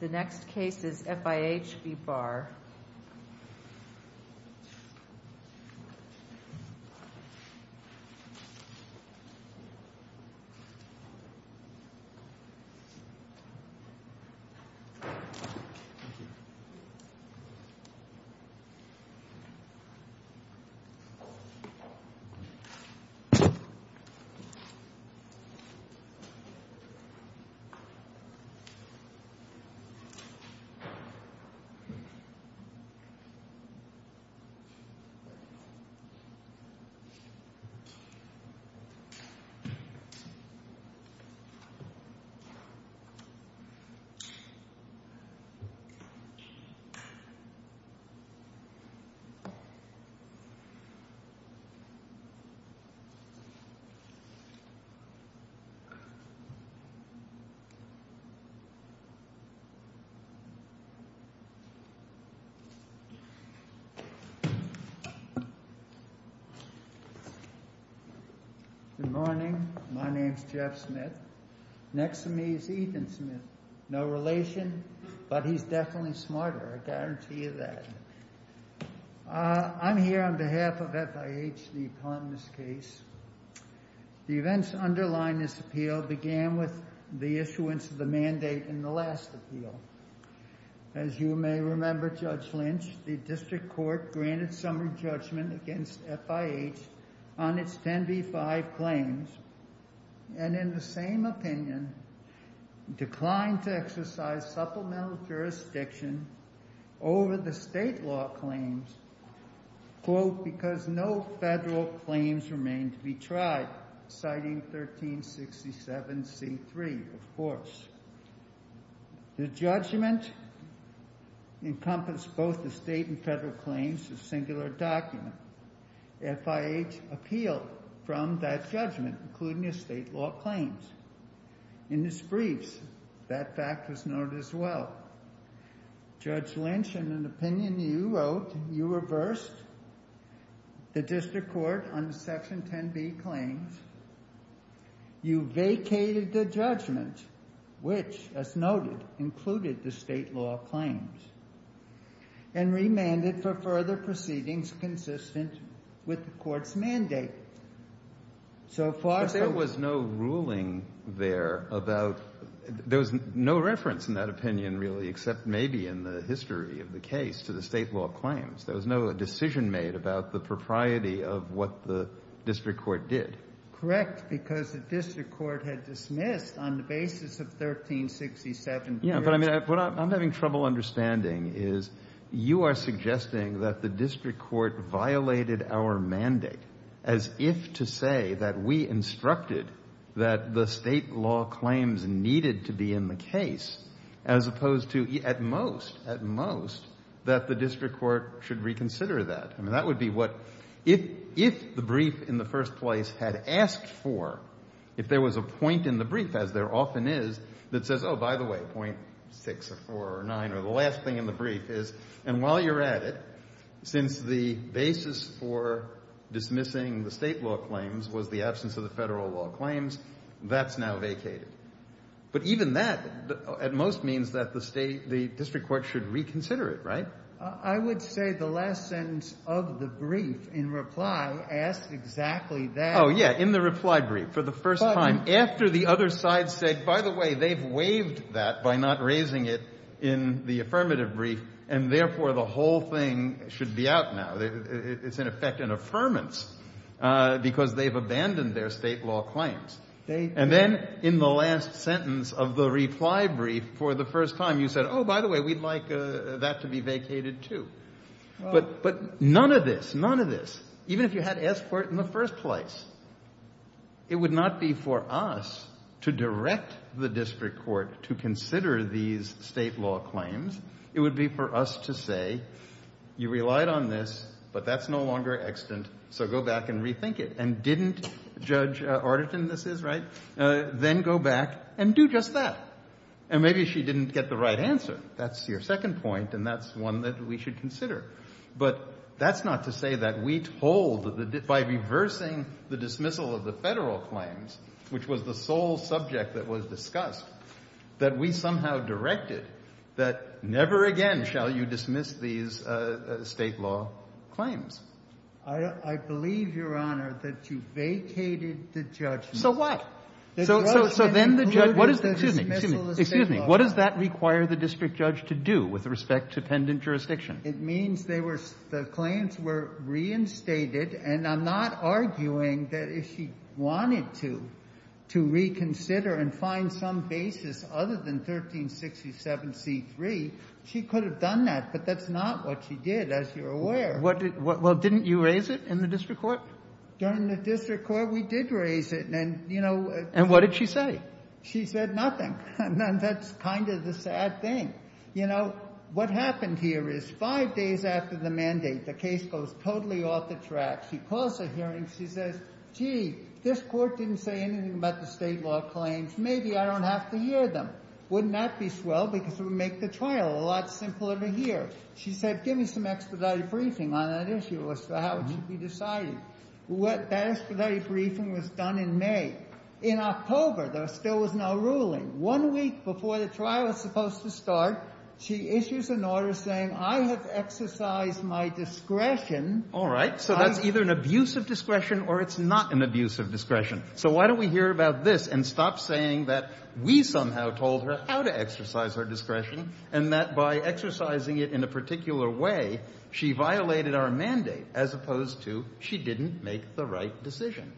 The next case is FIH v. Barr This is a case of FIH v. Barr Good morning. My name is Jeff Smith. Next to me is Ethan Smith. No relation, but he's definitely smarter. I guarantee you that. I'm here on behalf of FIH, the economist case. The events underlying this appeal began with the issuance of the mandate in the last appeal. As you may remember, Judge Lynch, the district court granted summary judgment against FIH on its 10b-5 claims, and in the same opinion, declined to exercise supplemental jurisdiction over the state law claims, quote, because no federal claims remained to be tried, citing 1367c-3, of course. The judgment encompassed both the state and federal claims, a singular document. FIH appealed from that judgment, including the state law claims. In its briefs, that fact was noted as well. Judge Lynch, in an opinion you wrote, you reversed the district court on the section 10b claims. You vacated the judgment, which, as noted, included the state law claims, and remanded for further proceedings consistent with the in that opinion, really, except maybe in the history of the case, to the state law claims. There was no decision made about the propriety of what the district court did. Correct, because the district court had dismissed on the basis of 1367c-3. Yeah, but I mean, what I'm having trouble understanding is you are suggesting that the district court violated our mandate, as if to say that we instructed that the state law claims needed to be in the case, as opposed to, at most, at most, that the district court should reconsider that. I mean, that would be what, if the brief in the first place had asked for, if there was a point in the brief, as there often is, that says, oh, by the way, point six or four or nine or the last thing in the brief is, and while you're at it, since the basis for dismissing the state law claims was the absence of the federal law claims, that's now vacated. But even that, at most, means that the district court should reconsider it, right? I would say the last sentence of the brief, in reply, asks exactly that. Oh, yeah, in the reply brief, for the first time, after the other side said, by the way, they've waived that by not raising it in the affirmative brief, and therefore the whole thing should be out now. It's, in effect, an affirmance, because they've abandoned their state law claims. And then, in the last sentence of the reply brief, for the first time, you said, oh, by the way, we'd like that to be vacated, too. But none of this, none of this, even if you had asked for it in the first place, it would not be for us to direct the district court to consider these state law claims. It would be for us to say, you relied on this, but that's no longer extant, so go back and rethink it. And didn't Judge Arderton, this is, right? Then go back and do just that. And maybe she didn't get the right answer. That's your second point, and that's one that we should consider. But that's not to say that we told, by reversing the dismissal of the federal claims, which was the sole subject that was discussed, that we somehow directed that never again shall you dismiss these state law claims. I believe, Your Honor, that you vacated the judgment. So what? So then the judge, what does that, excuse me, excuse me, what does that require the district judge to do with respect to pendent jurisdiction? It means they were, the claims were reinstated, and I'm not arguing that if she wanted to, to reconsider and find some basis other than 1367C3, she could have done that, but that's not what she did, as you're aware. Well, didn't you raise it in the district court? During the district court, we did raise it, and, you know. And what did she say? She said nothing, and that's kind of the sad thing. You know, what happened here is five days after the mandate, the case goes totally off the track. She calls a hearing. She says, gee, this court didn't say anything about the state law claims. Maybe I don't have to hear them. Wouldn't that be swell because it would make the trial a lot simpler to hear? She said, give me some expedited briefing on that issue as to how it should be decided. That expedited briefing was done in May. In October, there still was no ruling. One week before the trial was supposed to start, she issues an order saying, I have exercised my discretion. All right. So that's either an abuse of discretion or it's not an abuse of discretion. So why don't we hear about this and stop saying that we somehow told her how to exercise her discretion and that by exercising it in a particular way, she violated our mandate as opposed to she didn't make the right decision.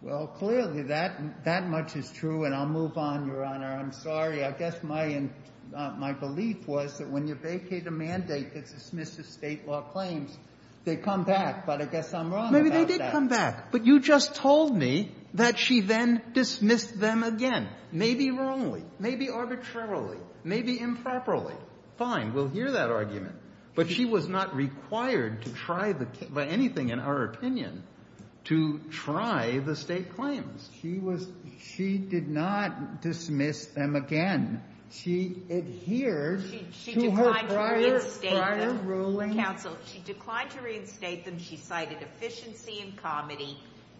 Well, clearly that much is true, and I'll move on, Your Honor. I'm sorry. I guess my belief was that when you vacate a mandate that dismisses state law claims, they come back. But I guess I'm wrong about that. Maybe they did come back. But you just told me that she then dismissed them again, maybe wrongly, maybe arbitrarily, maybe improperly. Fine. We'll hear that argument. But she was not required to try the case, by anything in our opinion, to try the state claims. She was – she did not dismiss them again. She adhered to her prior, prior ruling. Counsel, she declined to reinstate them. She cited efficiency and comedy.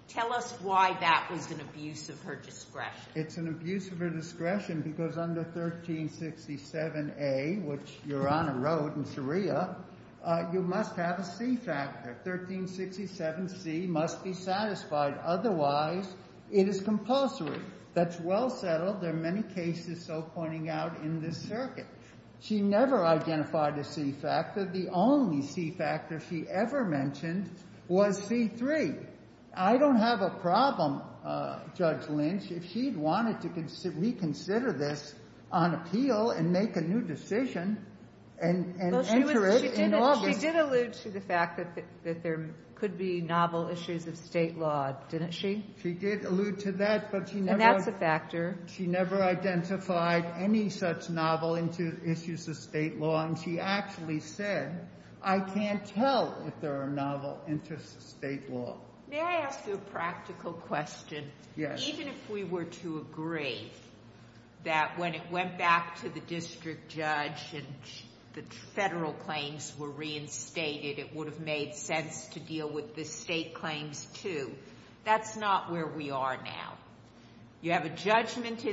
Tell us why that was an abuse of her discretion. It's an abuse of her discretion because under 1367A, which Your Honor wrote in Sharia, you must have a C factor. 1367C must be satisfied. Otherwise, it is compulsory. That's well settled. There are many cases so pointing out in this circuit. She never identified a C factor. The only C factor she ever mentioned was C3. I don't have a problem, Judge Lynch, if she wanted to reconsider this on appeal and make a new decision and enter it in law. She did allude to the fact that there could be novel issues of state law, didn't she? She did allude to that. And that's a factor. She never identified any such novel issues of state law. And she actually said, I can't tell if there are novel interests of state law. May I ask you a practical question? Yes. Even if we were to agree that when it went back to the district judge and the federal claims were reinstated, it would have made sense to deal with the state claims too. That's not where we are now. You have a judgment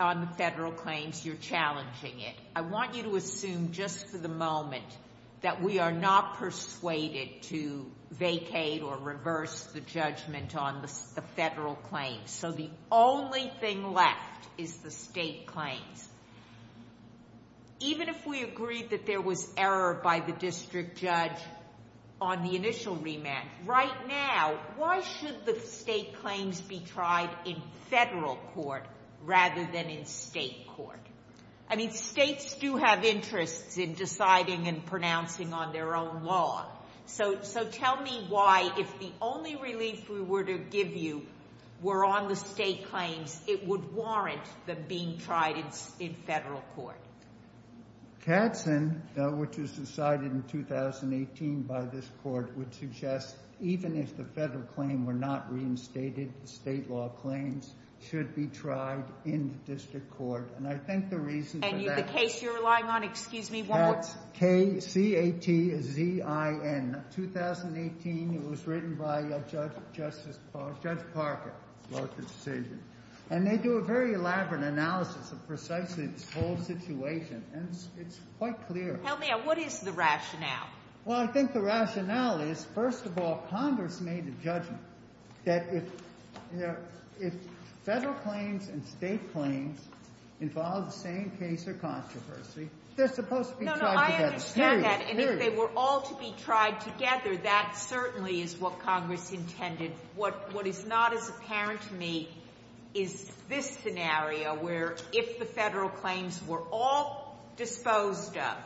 on the federal claims. You're challenging it. I want you to assume just for the moment that we are not persuaded to vacate or reverse the judgment on the federal claims. So the only thing left is the state claims. Even if we agreed that there was error by the district judge on the initial rematch, right now, why should the state claims be tried in federal court rather than in state court? I mean, states do have interests in deciding and pronouncing on their own law. So tell me why, if the only relief we were to give you were on the state claims, it would warrant them being tried in federal court. Katzen, which was decided in 2018 by this court, would suggest even if the federal claim were not reinstated, the state law claims should be tried in the district court. And I think the reason for that. And the case you're relying on, excuse me, one more time. K-C-A-T-Z-I-N. In 2018, it was written by Judge Parker. And they do a very elaborate analysis of precisely this whole situation, and it's quite clear. Tell me, what is the rationale? Well, I think the rationale is, first of all, Congress made a judgment that if federal claims and state claims involve the same case or controversy, they're supposed to be tried together. No, no, I understand that. And if they were all to be tried together, that certainly is what Congress intended. What is not as apparent to me is this scenario, where if the federal claims were all disposed of,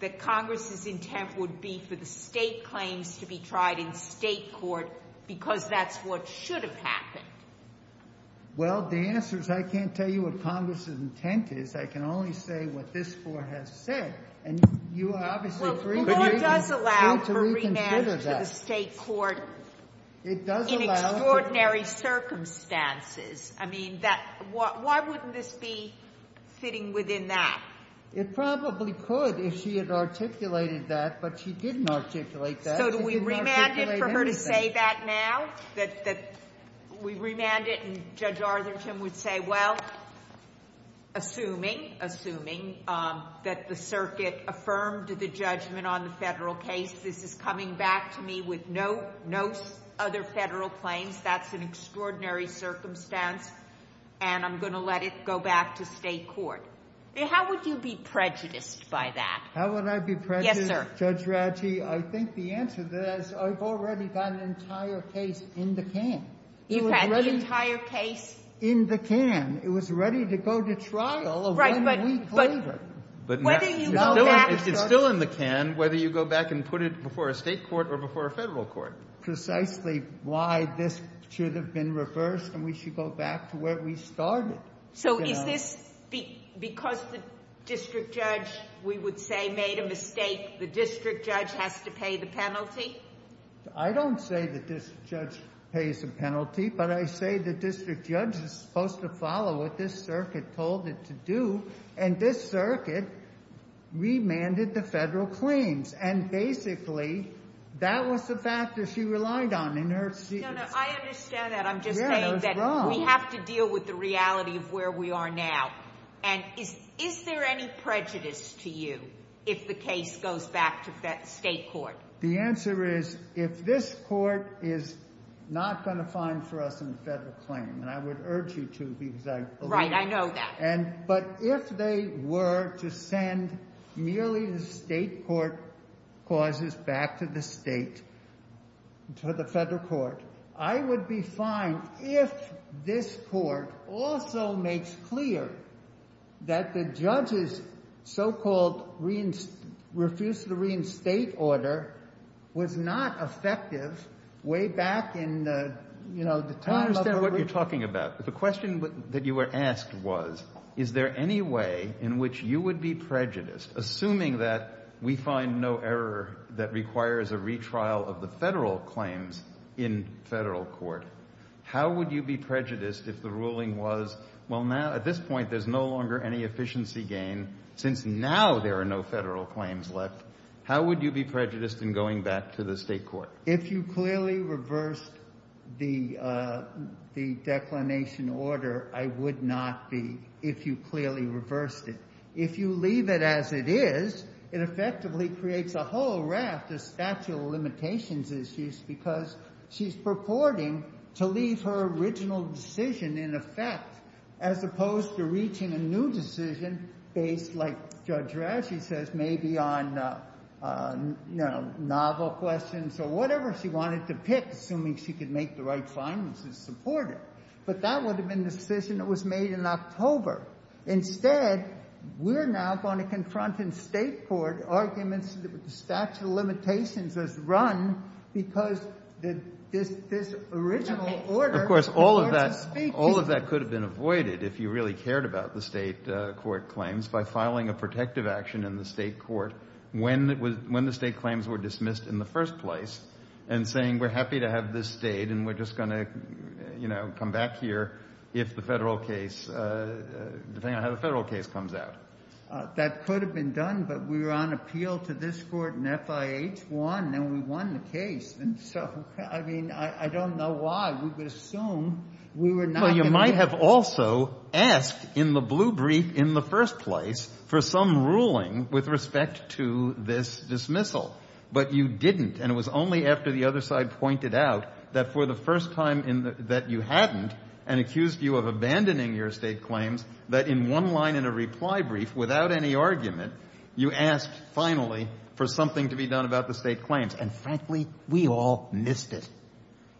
that Congress's intent would be for the state claims to be tried in state court, because that's what should have happened. Well, the answer is I can't tell you what Congress's intent is. I can only say what this Court has said. And you are obviously free to reconsider that. Well, the Court does allow for remand to the state court in extraordinary circumstances. I mean, why wouldn't this be fitting within that? It probably could if she had articulated that. But she didn't articulate that. So do we remand it for her to say that now, that we remand it and Judge Artherton would say, well, assuming, assuming that the circuit affirmed the judgment on the federal case, this is coming back to me with no other federal claims, that's an extraordinary circumstance, and I'm going to let it go back to state court. How would you be prejudiced by that? How would I be prejudiced? Yes, sir. Judge Radji, I think the answer is I've already got an entire case in the can. You've got the entire case? In the can. It was ready to go to trial a week later. Right, but whether you go back and start it. It's still in the can, whether you go back and put it before a state court or before a federal court. Precisely why this should have been reversed and we should go back to where we started. So is this because the district judge, we would say, made a mistake, the district judge has to pay the penalty? I don't say the district judge pays the penalty, but I say the district judge is supposed to follow what this circuit told it to do, and this circuit remanded the federal claims, and basically that was the factor she relied on in her decision. No, no, I understand that. I'm just saying that we have to deal with the reality of where we are now, and is there any prejudice to you if the case goes back to state court? The answer is if this court is not going to find for us a federal claim, and I would urge you to because I believe it. Right, I know that. But if they were to send merely the state court clauses back to the state, to the state court, that the judge's so-called refuse to reinstate order was not effective way back in the time of the... I understand what you're talking about. The question that you were asked was, is there any way in which you would be prejudiced? Assuming that we find no error that requires a retrial of the federal claims in federal court, how would you be prejudiced if the ruling was, well, now at this point there's no longer any efficiency gain, since now there are no federal claims left, how would you be prejudiced in going back to the state court? If you clearly reversed the declination order, I would not be if you clearly reversed it. If you leave it as it is, it effectively creates a whole raft of statute of limitations issues because she's purporting to leave her original decision in October, as opposed to reaching a new decision based, like Judge Rasche says, maybe on novel questions or whatever she wanted to pick, assuming she could make the right findings to support it. But that would have been a decision that was made in October. Instead, we're now going to confront in state court arguments that the statute of limitations is run because this original order... if you really cared about the state court claims by filing a protective action in the state court when the state claims were dismissed in the first place and saying we're happy to have this state and we're just going to come back here if the federal case, depending on how the federal case comes out. That could have been done, but we were on appeal to this court and FIH won and we won the case. And so, I mean, I don't know why we would assume we were not going to... Well, you might have also asked in the blue brief in the first place for some ruling with respect to this dismissal. But you didn't, and it was only after the other side pointed out that for the first time that you hadn't and accused you of abandoning your state claims that in one line in a reply brief, without any argument, you asked finally for something to be done about the state claims. And frankly, we all missed it.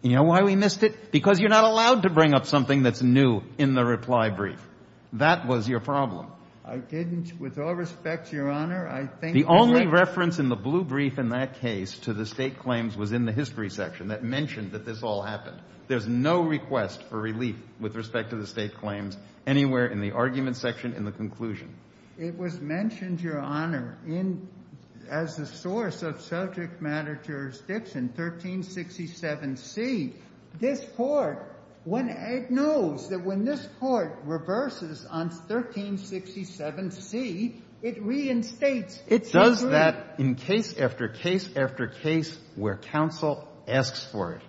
You know why we missed it? Because you're not allowed to bring up something that's new in the reply brief. That was your problem. I didn't. With all respect, Your Honor, I think... The only reference in the blue brief in that case to the state claims was in the history section that mentioned that this all happened. There's no request for relief with respect to the state claims anywhere in the argument section in the conclusion. It was mentioned, Your Honor, as a source of subject matter jurisdiction, 1367C. This Court, it knows that when this Court reverses on 1367C, it reinstates. It does that in case after case after case where counsel asks for it.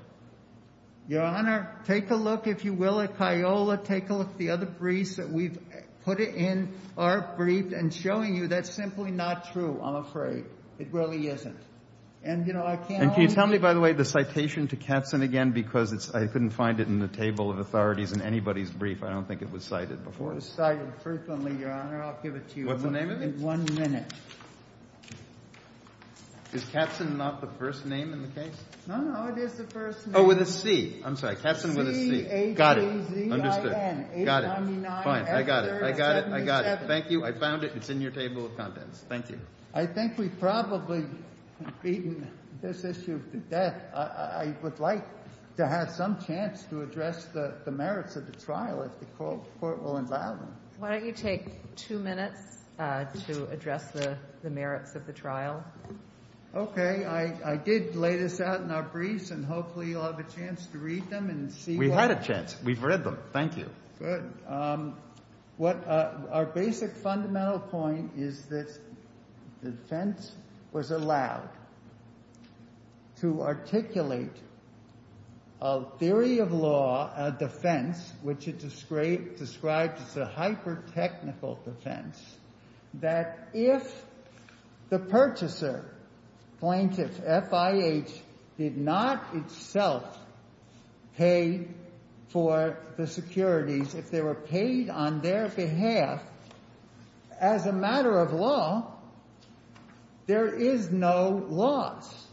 Your Honor, take a look, if you will, at Kiola. Take a look at the other briefs that we've put in our brief and showing you that's simply not true, I'm afraid. It really isn't. And, you know, I can't... And can you tell me, by the way, the citation to Katzen again? Because I couldn't find it in the table of authorities in anybody's brief. I don't think it was cited before. It was cited frequently, Your Honor. I'll give it to you. What's the name of it? In one minute. Is Katzen not the first name in the case? No, no, it is the first name. Oh, with a C. Katzen with a C. C-A-T-Z-I-N. Got it. Understood. Got it. Fine. I got it. I got it. I got it. Thank you. I found it. It's in your table of contents. Thank you. I think we've probably beaten this issue to death. I would like to have some chance to address the merits of the trial if the court will allow it. Why don't you take two minutes to address the merits of the trial? Okay. I did lay this out in our briefs, and hopefully you'll have a chance to read them and see what... We had a chance. We've read them. Thank you. Good. Our basic fundamental point is that the defense was allowed to articulate a theory of law, a defense, which it described as a hyper-technical defense, that if the purchaser, plaintiff FIH, did not itself pay for the securities, if they were paid on their behalf as a matter of law, there is no loss.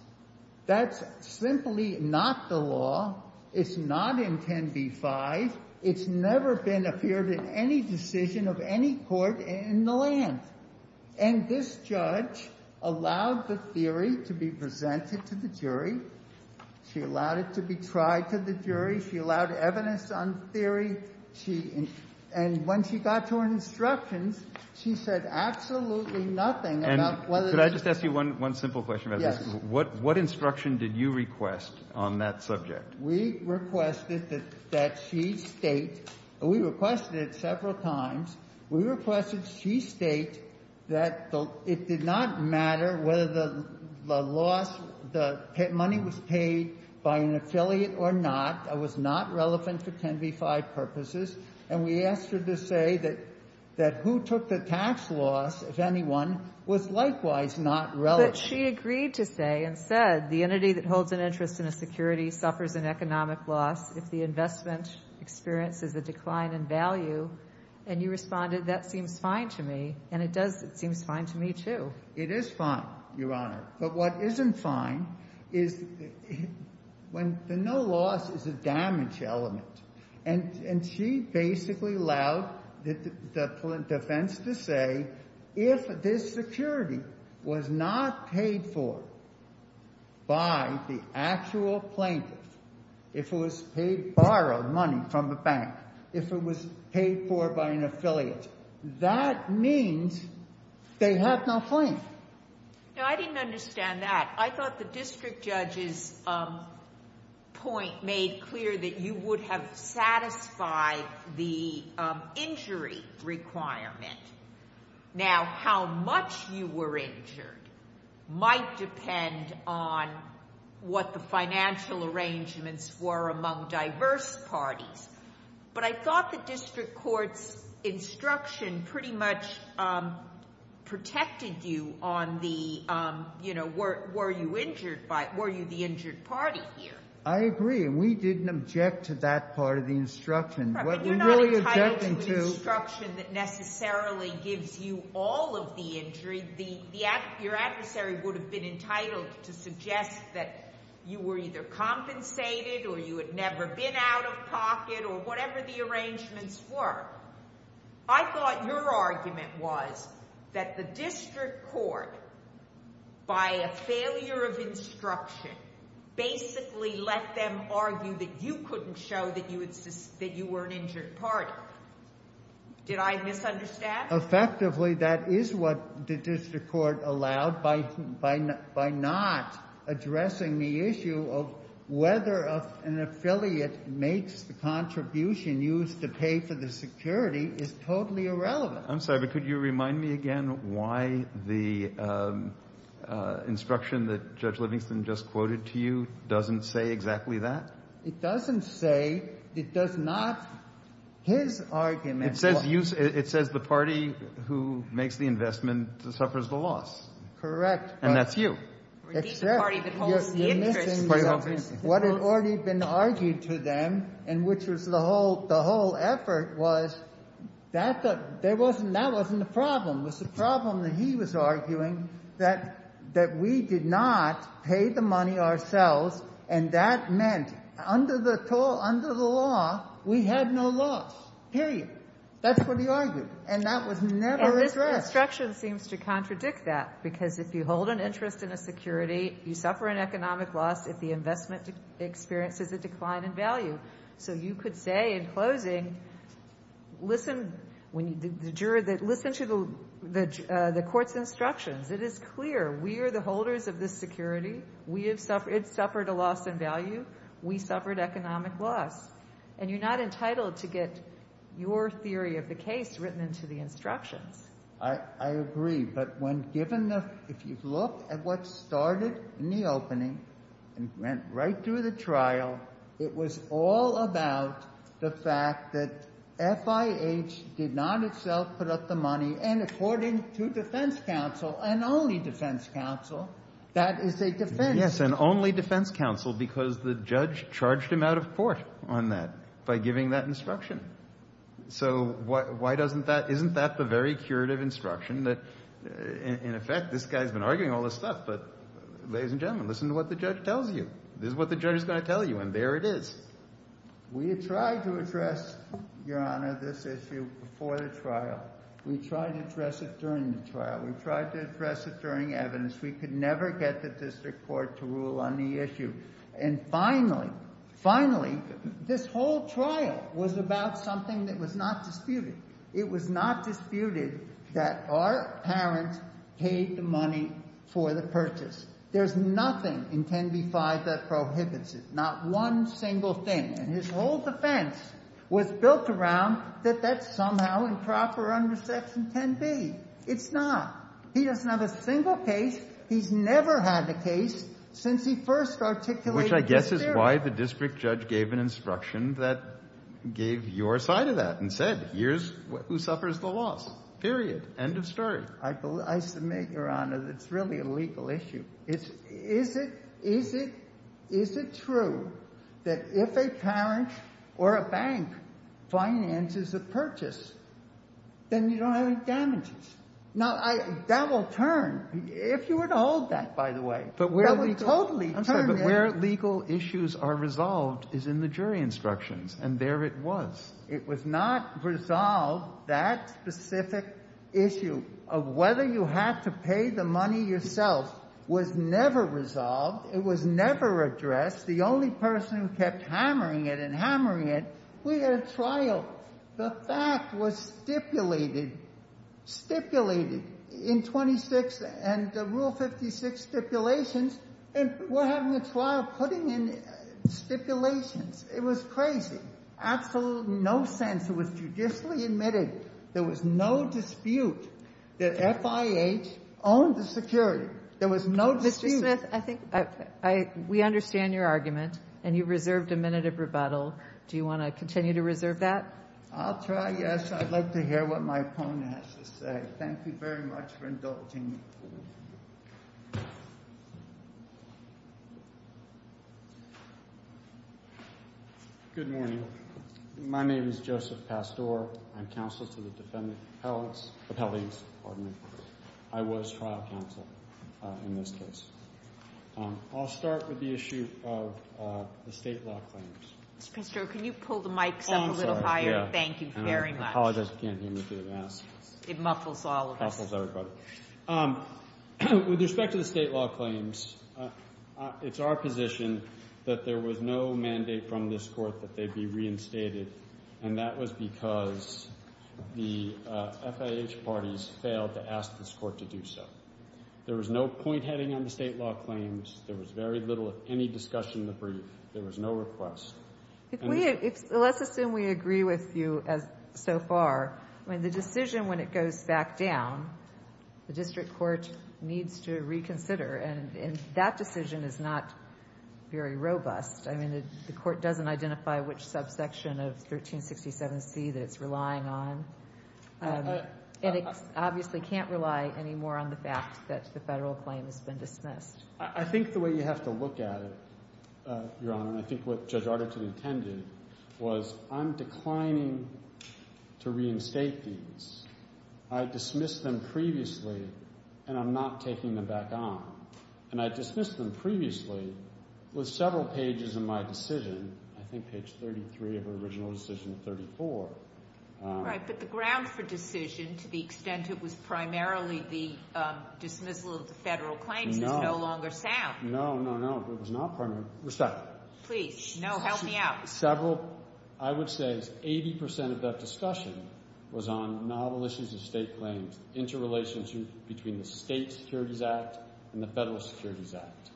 That's simply not the law. It's not in 10b-5. It's never been appeared in any decision of any court in the land. And this judge allowed the theory to be presented to the jury. She allowed it to be tried to the jury. She allowed evidence on theory. And when she got to her instructions, she said absolutely nothing about whether... Could I just ask you one simple question about this? Yes. What instruction did you request on that subject? We requested that she state... We requested it several times. We requested she state that it did not matter whether the loss, the money was paid by an affiliate or not. That was not relevant for 10b-5 purposes. And we asked her to say that who took the tax loss, if anyone, was likewise not relevant. But she agreed to say and said the entity that holds an interest in a security suffers an economic loss if the investment experiences a decline in value. And you responded, that seems fine to me. And it does seem fine to me, too. It is fine, Your Honor. But what isn't fine is when the no loss is a damage element. And she basically allowed the defense to say if this security was not paid for by the actual plaintiff, if it was borrowed money from the bank, if it was paid for by an affiliate. That means they have no claim. Now, I didn't understand that. I thought the district judge's point made clear that you would have satisfied the injury requirement. Now, how much you were injured might depend on what the financial arrangements were among diverse parties. But I thought the district court's instruction pretty much protected you on the, you know, were you the injured party here. I agree. And we didn't object to that part of the instruction. But you're not entitled to an instruction that necessarily gives you all of the injury. Your adversary would have been entitled to suggest that you were either compensated or you had never been out of pocket or whatever the arrangements were. I thought your argument was that the district court, by a failure of instruction, basically let them argue that you couldn't show that you were an injured party. Did I misunderstand? Effectively, that is what the district court allowed by not addressing the issue of whether an affiliate makes the contribution used to pay for the security is totally irrelevant. I'm sorry, but could you remind me again why the instruction that Judge Livingston just quoted to you doesn't say exactly that? It doesn't say. It does not. His argument was. It says the party who makes the investment suffers the loss. Correct. And that's you. You're missing what had already been argued to them and which was the whole effort was that wasn't the problem. It was the problem that he was arguing that we did not pay the money ourselves and that meant under the law we had no loss, period. That's what he argued, and that was never addressed. And this instruction seems to contradict that because if you hold an interest in a security, you suffer an economic loss if the investment experiences a decline in value. So you could say in closing, listen to the court's instructions. It is clear we are the holders of this security. It suffered a loss in value. We suffered economic loss. And you're not entitled to get your theory of the case written into the instructions. I agree. But if you look at what started in the opening and went right through the trial, it was all about the fact that FIH did not itself put up the money, and according to defense counsel and only defense counsel, that is a defense. Yes, and only defense counsel because the judge charged him out of court on that by giving that instruction. So isn't that the very curative instruction that, in effect, this guy's been arguing all this stuff, but ladies and gentlemen, listen to what the judge tells you. This is what the judge is going to tell you, and there it is. We tried to address, Your Honor, this issue before the trial. We tried to address it during the trial. We tried to address it during evidence. We could never get the district court to rule on the issue. And finally, finally, this whole trial was about something that was not disputed. It was not disputed that our parents paid the money for the purchase. There's nothing in 10b-5 that prohibits it, not one single thing. And his whole defense was built around that that's somehow improper under Section 10b. It's not. He doesn't have a single case. He's never had a case since he first articulated this theory. Which I guess is why the district judge gave an instruction that gave your side of that and said, here's who suffers the loss, period, end of story. I submit, Your Honor, that it's really a legal issue. Is it true that if a parent or a bank finances a purchase, then you don't have any damages? Now, that will turn. If you were to hold that, by the way, that would totally turn it. I'm sorry, but where legal issues are resolved is in the jury instructions, and there it was. It was not resolved. That specific issue of whether you had to pay the money yourself was never resolved. It was never addressed. The only person who kept hammering it and hammering it, we had a trial. The fact was stipulated, stipulated in 26 and Rule 56 stipulations, and we're having a trial putting in stipulations. It was crazy. Absolutely no sense. It was judicially admitted. There was no dispute that FIH owned the security. There was no dispute. Judge Smith, I think we understand your argument, and you reserved a minute of rebuttal. Do you want to continue to reserve that? I'll try, yes. I'd like to hear what my opponent has to say. Thank you very much for indulging me. Good morning. My name is Joseph Pastore. I'm counsel to the defendant's appellate. I was trial counsel in this case. I'll start with the issue of the state law claims. Mr. Pastore, can you pull the mics up a little higher? Thank you very much. I apologize. I can't hear me through the mask. It muffles all of us. It muffles everybody. With respect to the state law claims, it's our position that there was no mandate from this court that they be reinstated, and that was because the FIH parties failed to ask this court to do so. There was no point heading on the state law claims. There was very little, any discussion in the brief. There was no request. Let's assume we agree with you so far. I mean, the decision, when it goes back down, the district court needs to reconsider, and that decision is not very robust. I mean, the court doesn't identify which subsection of 1367C that it's relying on, and it obviously can't rely any more on the fact that the federal claim has been dismissed. I think the way you have to look at it, Your Honor, and I think what Judge Arderton intended, was I'm declining to reinstate these. I dismissed them previously, and I'm not taking them back on. And I dismissed them previously with several pages in my decision. I think page 33 of her original decision of 34. All right, but the ground for decision to the extent it was primarily the dismissal of the federal claims is no longer sound. No, no, no. It was not primarily. Respect. Please. No, help me out. Several. I would say 80% of that discussion was on novel issues of state claims, interrelationship between the State Securities Act and the Federal Securities Act,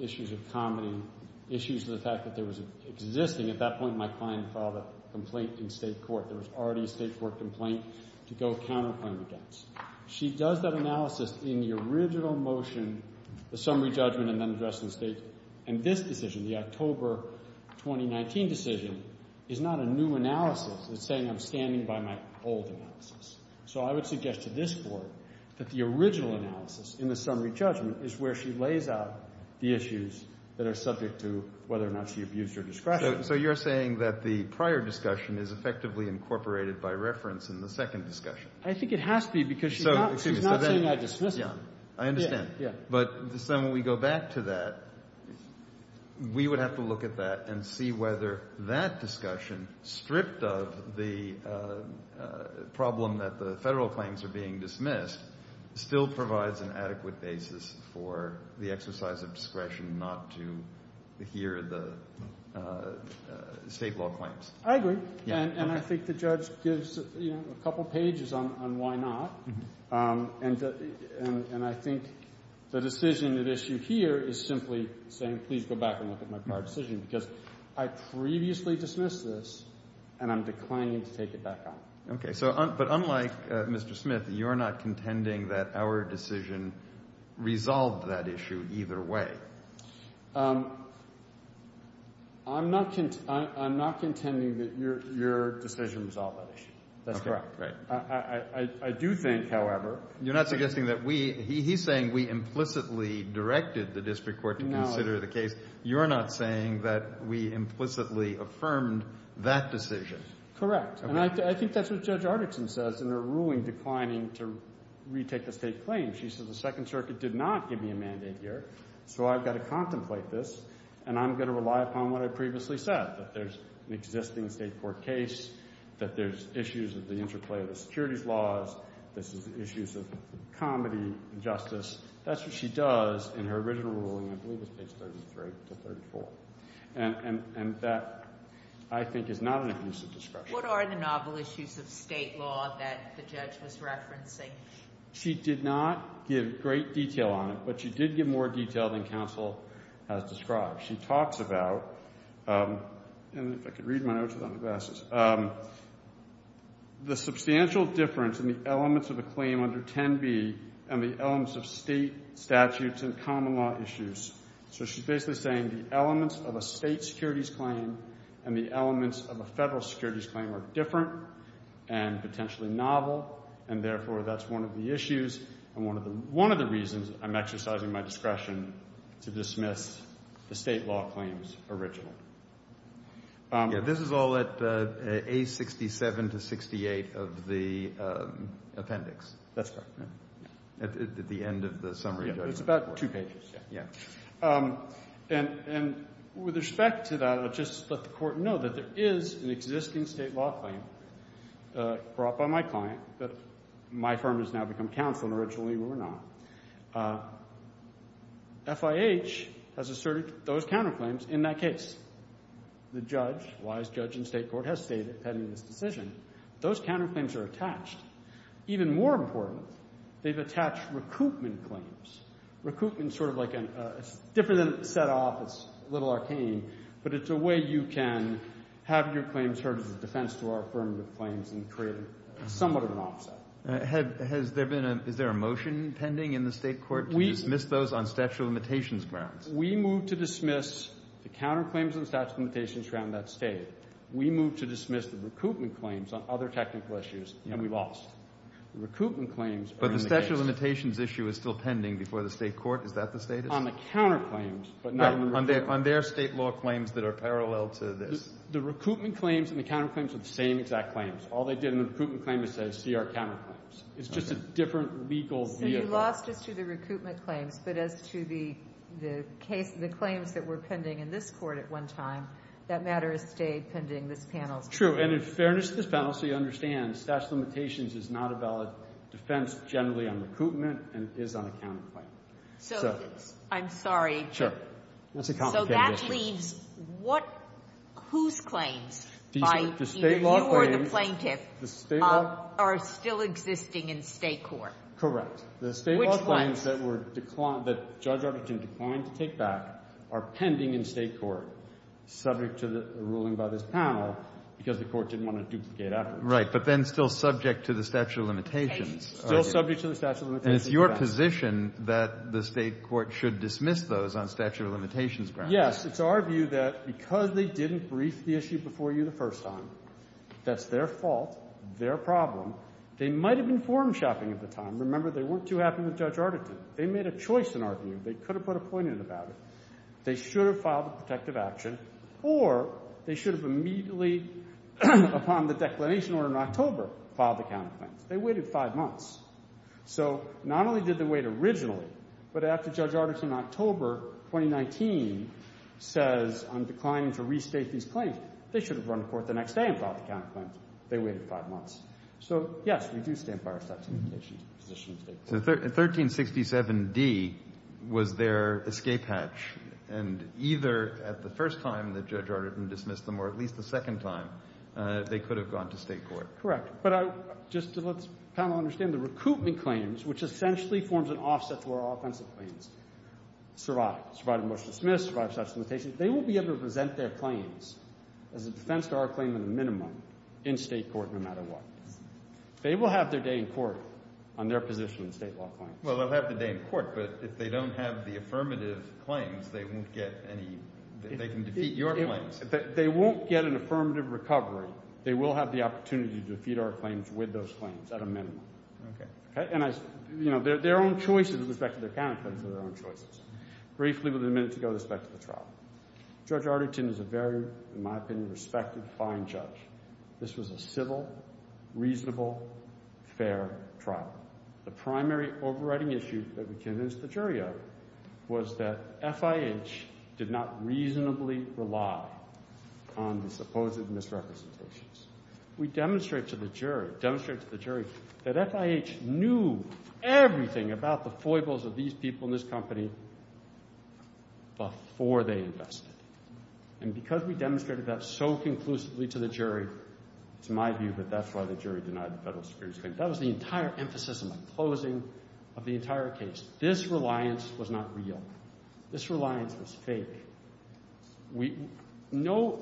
issues of comedy, issues of the fact that there was an existing. At that point, my client filed a complaint in state court. There was already a state court complaint to go counterclaim against. She does that analysis in the original motion, the summary judgment, and then addressed in state. And this decision, the October 2019 decision, is not a new analysis. It's saying I'm standing by my old analysis. So I would suggest to this Court that the original analysis in the summary judgment is where she lays out the issues that are subject to whether or not she abused her discretion. So you're saying that the prior discussion is effectively incorporated by reference in the second discussion? I think it has to be because she's not saying I dismissed them. I understand. Yeah. But then when we go back to that, we would have to look at that and see whether that discussion, stripped of the problem that the federal claims are being dismissed, still provides an adequate basis for the exercise of discretion not to adhere to the state law claims. I agree. And I think the judge gives a couple pages on why not. And I think the decision at issue here is simply saying please go back and look at my prior decision, because I previously dismissed this and I'm declining to take it back on. Okay. But unlike Mr. Smith, you're not contending that our decision resolved that issue either way. I'm not contending that your decision resolved that issue. That's correct. Okay. You think, however— You're not suggesting that we—he's saying we implicitly directed the district court to consider the case. You're not saying that we implicitly affirmed that decision. Correct. And I think that's what Judge Artickson says in her ruling declining to retake the state claims. She says the Second Circuit did not give me a mandate here, so I've got to contemplate this, and I'm going to rely upon what I previously said, that there's an existing state court case, that there's issues of the interplay of the securities laws, there's issues of comedy and justice. That's what she does in her original ruling, I believe it's page 33 to 34. And that, I think, is not an abusive discretion. What are the novel issues of state law that the judge was referencing? She did not give great detail on it, but she did give more detail than counsel has described. She talks about—and if I could read my notes without my glasses— the substantial difference in the elements of a claim under 10b and the elements of state statutes and common law issues. So she's basically saying the elements of a state securities claim and the elements of a federal securities claim are different and potentially novel, and therefore that's one of the issues and one of the reasons I'm exercising my discretion to dismiss the state law claim's original. Yeah, this is all at A67 to 68 of the appendix. That's correct. At the end of the summary judgment. Yeah, it's about two pages. Yeah. And with respect to that, I'll just let the Court know that there is an existing state law claim brought by my client that my firm has now become counsel and originally we were not. FIH has asserted those counterclaims in that case. The judge, wise judge in state court, has stated, pending this decision, those counterclaims are attached. Even more important, they've attached recoupment claims. Recoupment is sort of like a—it's different than set off. It's a little arcane, but it's a way you can have your claims heard as a defense to our affirmative claims and create somewhat of an offset. Has there been a—is there a motion pending in the state court to dismiss those on statute of limitations grounds? We moved to dismiss the counterclaims on the statute of limitations grounds that state. We moved to dismiss the recoupment claims on other technical issues, and we lost. The recoupment claims are in the case. But the statute of limitations issue is still pending before the state court. Is that the status? On the counterclaims, but not on the recoupment. On their state law claims that are parallel to this. The recoupment claims and the counterclaims are the same exact claims. All they did in the recoupment claim is say CR counterclaims. It's just a different legal vehicle. So you lost us to the recoupment claims. But as to the case—the claims that were pending in this court at one time, that matter has stayed pending this panel's case. True. And in fairness to this panel, so you understand, the statute of limitations is not a valid defense generally on recoupment, and it is on a counterclaim. So I'm sorry. Sure. That's a complicated issue. That leaves what — whose claims by either you or the plaintiff are still existing in state court? Correct. Which ones? The state law claims that were declined — that Judge Arbutin declined to take back are pending in state court, subject to the ruling by this panel, because the court didn't want to duplicate afterwards. Right. But then still subject to the statute of limitations. Still subject to the statute of limitations. And it's your position that the state court should dismiss those on statute of limitations grounds. Yes. It's our view that because they didn't brief the issue before you the first time, that's their fault, their problem. They might have informed shopping at the time. Remember, they weren't too happy with Judge Arbutin. They made a choice in our view. They could have put a point in about it. They should have filed a protective action, or they should have immediately, upon the declination order in October, filed a counterclaim. They waited five months. So not only did they wait originally, but after Judge Arbutin in October 2019 says, I'm declining to restate these claims, they should have run to court the next day and filed the counterclaim. They waited five months. So, yes, we do stand by our statute of limitations position in state court. So 1367d was their escape hatch, and either at the first time that Judge Arbutin dismissed them or at least the second time, they could have gone to state court. Correct. But just to let the panel understand, the recoupment claims, which essentially forms an offset to our offensive claims, survive. Survive the motion to dismiss, survive statute of limitations. They will be able to present their claims as a defense to our claim in the minimum in state court no matter what. They will have their day in court on their position in state law claims. Well, they'll have their day in court, but if they don't have the affirmative claims, they won't get any – they can defeat your claims. They won't get an affirmative recovery. They will have the opportunity to defeat our claims with those claims at a minimum. Okay. And, you know, their own choices with respect to their counterclaims are their own choices. Briefly, we'll be a minute to go with respect to the trial. Judge Arbutin is a very, in my opinion, respected, fine judge. This was a civil, reasonable, fair trial. The primary overriding issue that we convinced the jury of was that FIH did not reasonably rely on the supposed misrepresentations. We demonstrate to the jury that FIH knew everything about the foibles of these people in this company before they invested. And because we demonstrated that so conclusively to the jury, it's my view that that's why the jury denied the Federal Superior's claim. That was the entire emphasis in my closing of the entire case. This reliance was not real. This reliance was fake. No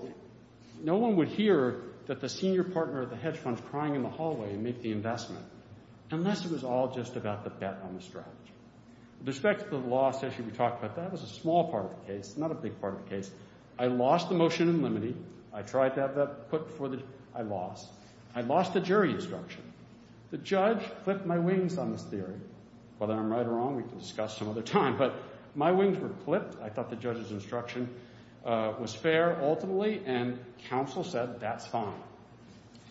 one would hear that the senior partner at the hedge fund is crying in the hallway and make the investment unless it was all just about the bet on the strategy. With respect to the loss issue we talked about, that was a small part of the case, not a big part of the case. I lost the motion in limine. I tried to have that put before the jury. I lost. I lost the jury instruction. The judge clipped my wings on this theory. Whether I'm right or wrong, we can discuss some other time, but my wings were clipped. I thought the judge's instruction was fair ultimately, and counsel said that's fine.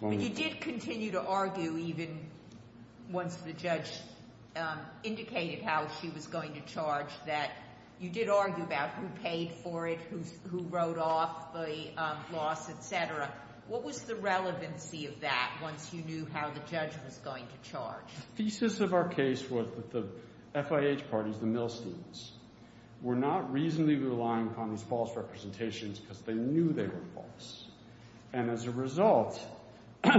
But you did continue to argue even once the judge indicated how she was going to charge that you did argue about who paid for it, who wrote off the loss, et cetera. What was the relevancy of that once you knew how the judge was going to charge? The thesis of our case was that the FIH parties, the Milsteins, were not reasonably relying upon these false representations because they knew they were false. And as a result,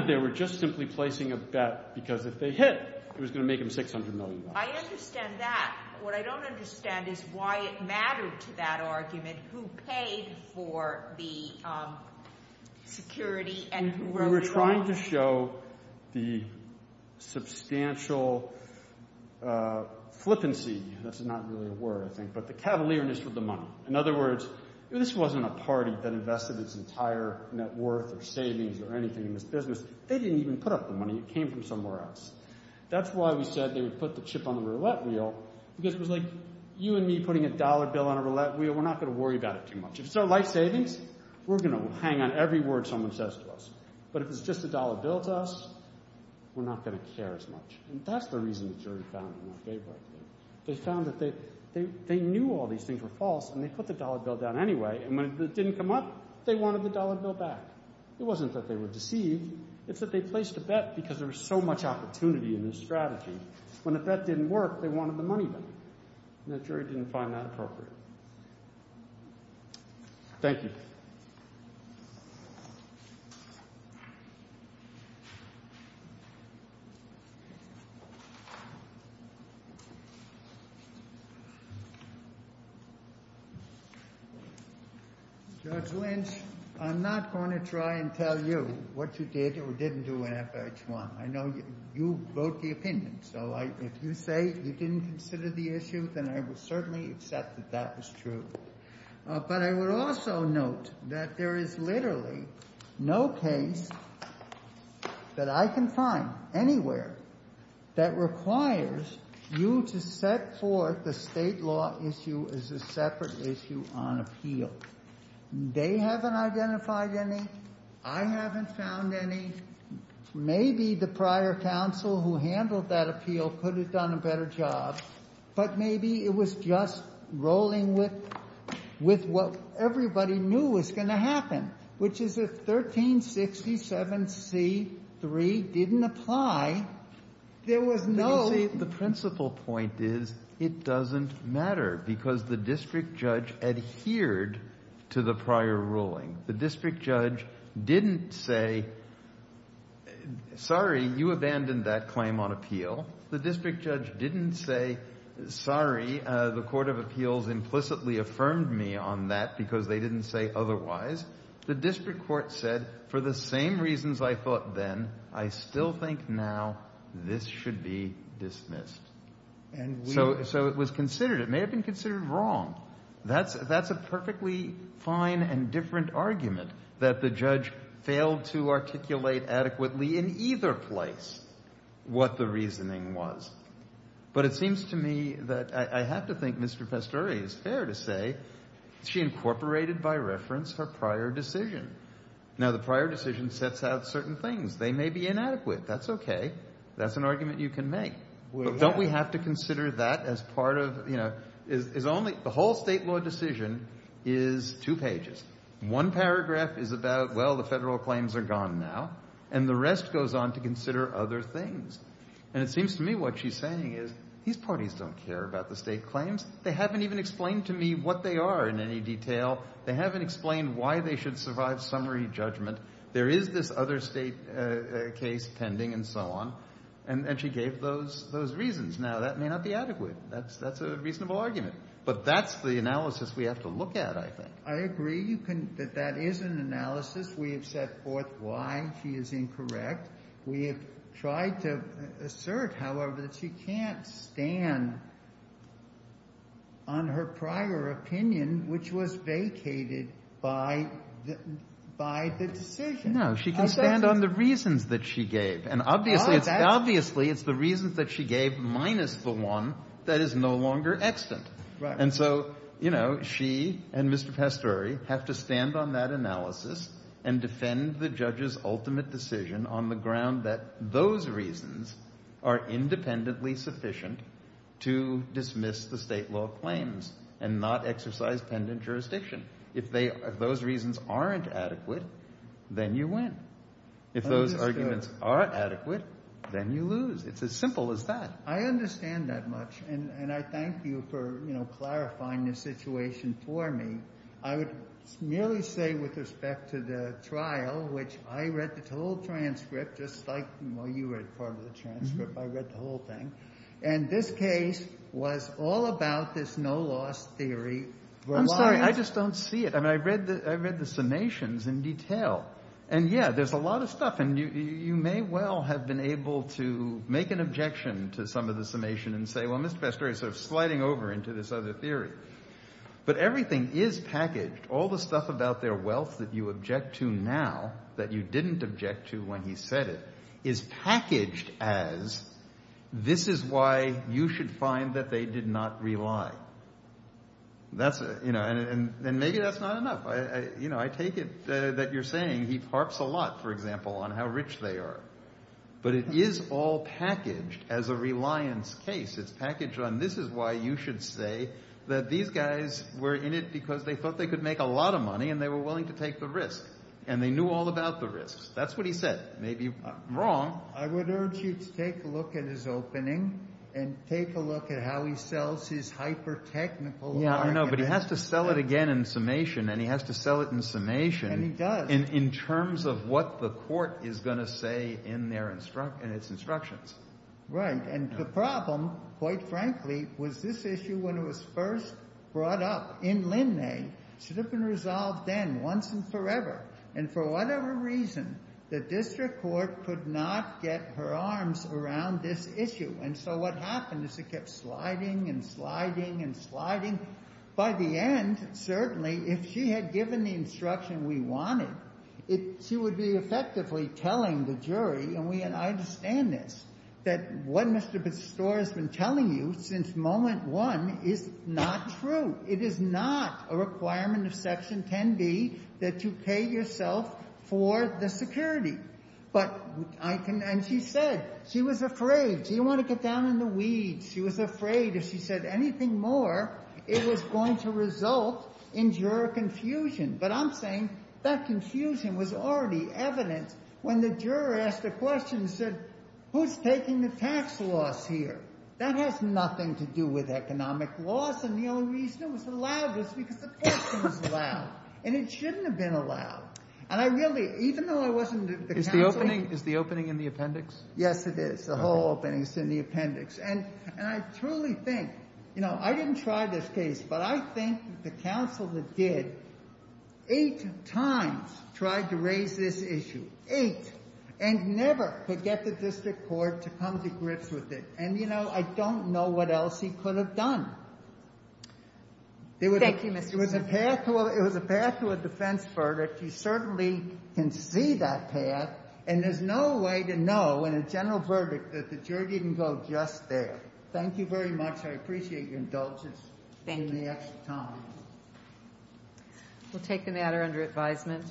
they were just simply placing a bet because if they hit, it was going to make them $600 million. I understand that. What I don't understand is why it mattered to that argument who paid for the security and who wrote it off. We were trying to show the substantial flippancy. That's not really a word, I think, but the cavalierness with the money. In other words, this wasn't a party that invested its entire net worth or savings or anything in this business. They didn't even put up the money. It came from somewhere else. That's why we said they would put the chip on the roulette wheel because it was like you and me putting a dollar bill on a roulette wheel. We're not going to worry about it too much. If it's our life savings, we're going to hang on every word someone says to us. But if it's just a dollar bill to us, we're not going to care as much. And that's the reason the jury found him unfavorable. They found that they knew all these things were false, and they put the dollar bill down anyway. And when it didn't come up, they wanted the dollar bill back. It wasn't that they were deceived. It's that they placed a bet because there was so much opportunity in this strategy. When the bet didn't work, they wanted the money back, and the jury didn't find that appropriate. Thank you. Judge Lynch, I'm not going to try and tell you what you did or didn't do in FH1. I know you wrote the opinion, so if you say you didn't consider the issue, then I will certainly accept that that was true. But I would also note that there is literally no case that I can find anywhere that requires you to set forth a state law issue as a separate issue on appeal. They haven't identified any. I haven't found any. Maybe the prior counsel who handled that appeal could have done a better job. But maybe it was just rolling with what everybody knew was going to happen, which is if 1367C3 didn't apply, there was no ---- You see, the principal point is it doesn't matter because the district judge adhered to the prior ruling. The district judge didn't say, sorry, you abandoned that claim on appeal. The district judge didn't say, sorry, the court of appeals implicitly affirmed me on that because they didn't say otherwise. The district court said, for the same reasons I thought then, I still think now this should be dismissed. So it was considered. It may have been considered wrong. That's a perfectly fine and different argument that the judge failed to articulate adequately in either place what the reasoning was. But it seems to me that I have to think Mr. Pastore is fair to say she incorporated by reference her prior decision. Now, the prior decision sets out certain things. They may be inadequate. That's okay. That's an argument you can make. But don't we have to consider that as part of ---- The whole state law decision is two pages. One paragraph is about, well, the federal claims are gone now. And the rest goes on to consider other things. And it seems to me what she's saying is these parties don't care about the state claims. They haven't even explained to me what they are in any detail. They haven't explained why they should survive summary judgment. There is this other state case pending and so on. And she gave those reasons. Now, that may not be adequate. That's a reasonable argument. But that's the analysis we have to look at, I think. I agree that that is an analysis. We have set forth why she is incorrect. We have tried to assert, however, that she can't stand on her prior opinion, which was vacated by the decision. No, she can stand on the reasons that she gave. And obviously it's the reasons that she gave minus the one that is no longer extant. And so, you know, she and Mr. Pastore have to stand on that analysis and defend the judge's ultimate decision on the ground that those reasons are independently sufficient to dismiss the state law claims and not exercise pendant jurisdiction. If those reasons aren't adequate, then you win. If those arguments are adequate, then you lose. It's as simple as that. I understand that much. And I thank you for, you know, clarifying the situation for me. I would merely say with respect to the trial, which I read the whole transcript just like you read part of the transcript. I read the whole thing. And this case was all about this no-loss theory. I'm sorry. I just don't see it. I mean, I read the summations in detail. And, yeah, there's a lot of stuff. And you may well have been able to make an objection to some of the summation and say, well, Mr. Pastore is sort of sliding over into this other theory. But everything is packaged. All the stuff about their wealth that you object to now that you didn't object to when he said it is packaged as this is why you should find that they did not rely. That's, you know, and maybe that's not enough. You know, I take it that you're saying he harps a lot, for example, on how rich they are. But it is all packaged as a reliance case. It's packaged on this is why you should say that these guys were in it because they thought they could make a lot of money and they were willing to take the risk and they knew all about the risks. That's what he said. Maybe wrong. I would urge you to take a look at his opening and take a look at how he sells his hyper technical. Yeah, I know. But he has to sell it again in summation and he has to sell it in summation. And he does. In terms of what the court is going to say in their instruction and its instructions. Right. And the problem, quite frankly, was this issue when it was first brought up in Linnae should have been resolved then once and forever. And for whatever reason, the district court could not get her arms around this issue. And so what happened is it kept sliding and sliding and sliding. By the end, certainly, if she had given the instruction we wanted, she would be effectively telling the jury. And I understand this, that what Mr. Bestore has been telling you since moment one is not true. It is not a requirement of Section 10B that you pay yourself for the security. And she said she was afraid. She didn't want to get down in the weeds. She was afraid if she said anything more, it was going to result in juror confusion. But I'm saying that confusion was already evident when the juror asked a question and said, who's taking the tax loss here? That has nothing to do with economic loss. And the only reason it was allowed was because the question was allowed. And it shouldn't have been allowed. And I really, even though I wasn't the counsel. Is the opening in the appendix? Yes, it is. The whole opening is in the appendix. And I truly think, you know, I didn't try this case, but I think the counsel that did eight times tried to raise this issue. Eight. And never could get the district court to come to grips with it. And, you know, I don't know what else he could have done. Thank you, Mr. Smith. It was a path to a defense verdict. You certainly can see that path. And there's no way to know in a general verdict that the jury didn't go just there. Thank you very much. I appreciate your indulgence. Thank you. We'll take the matter under advisement.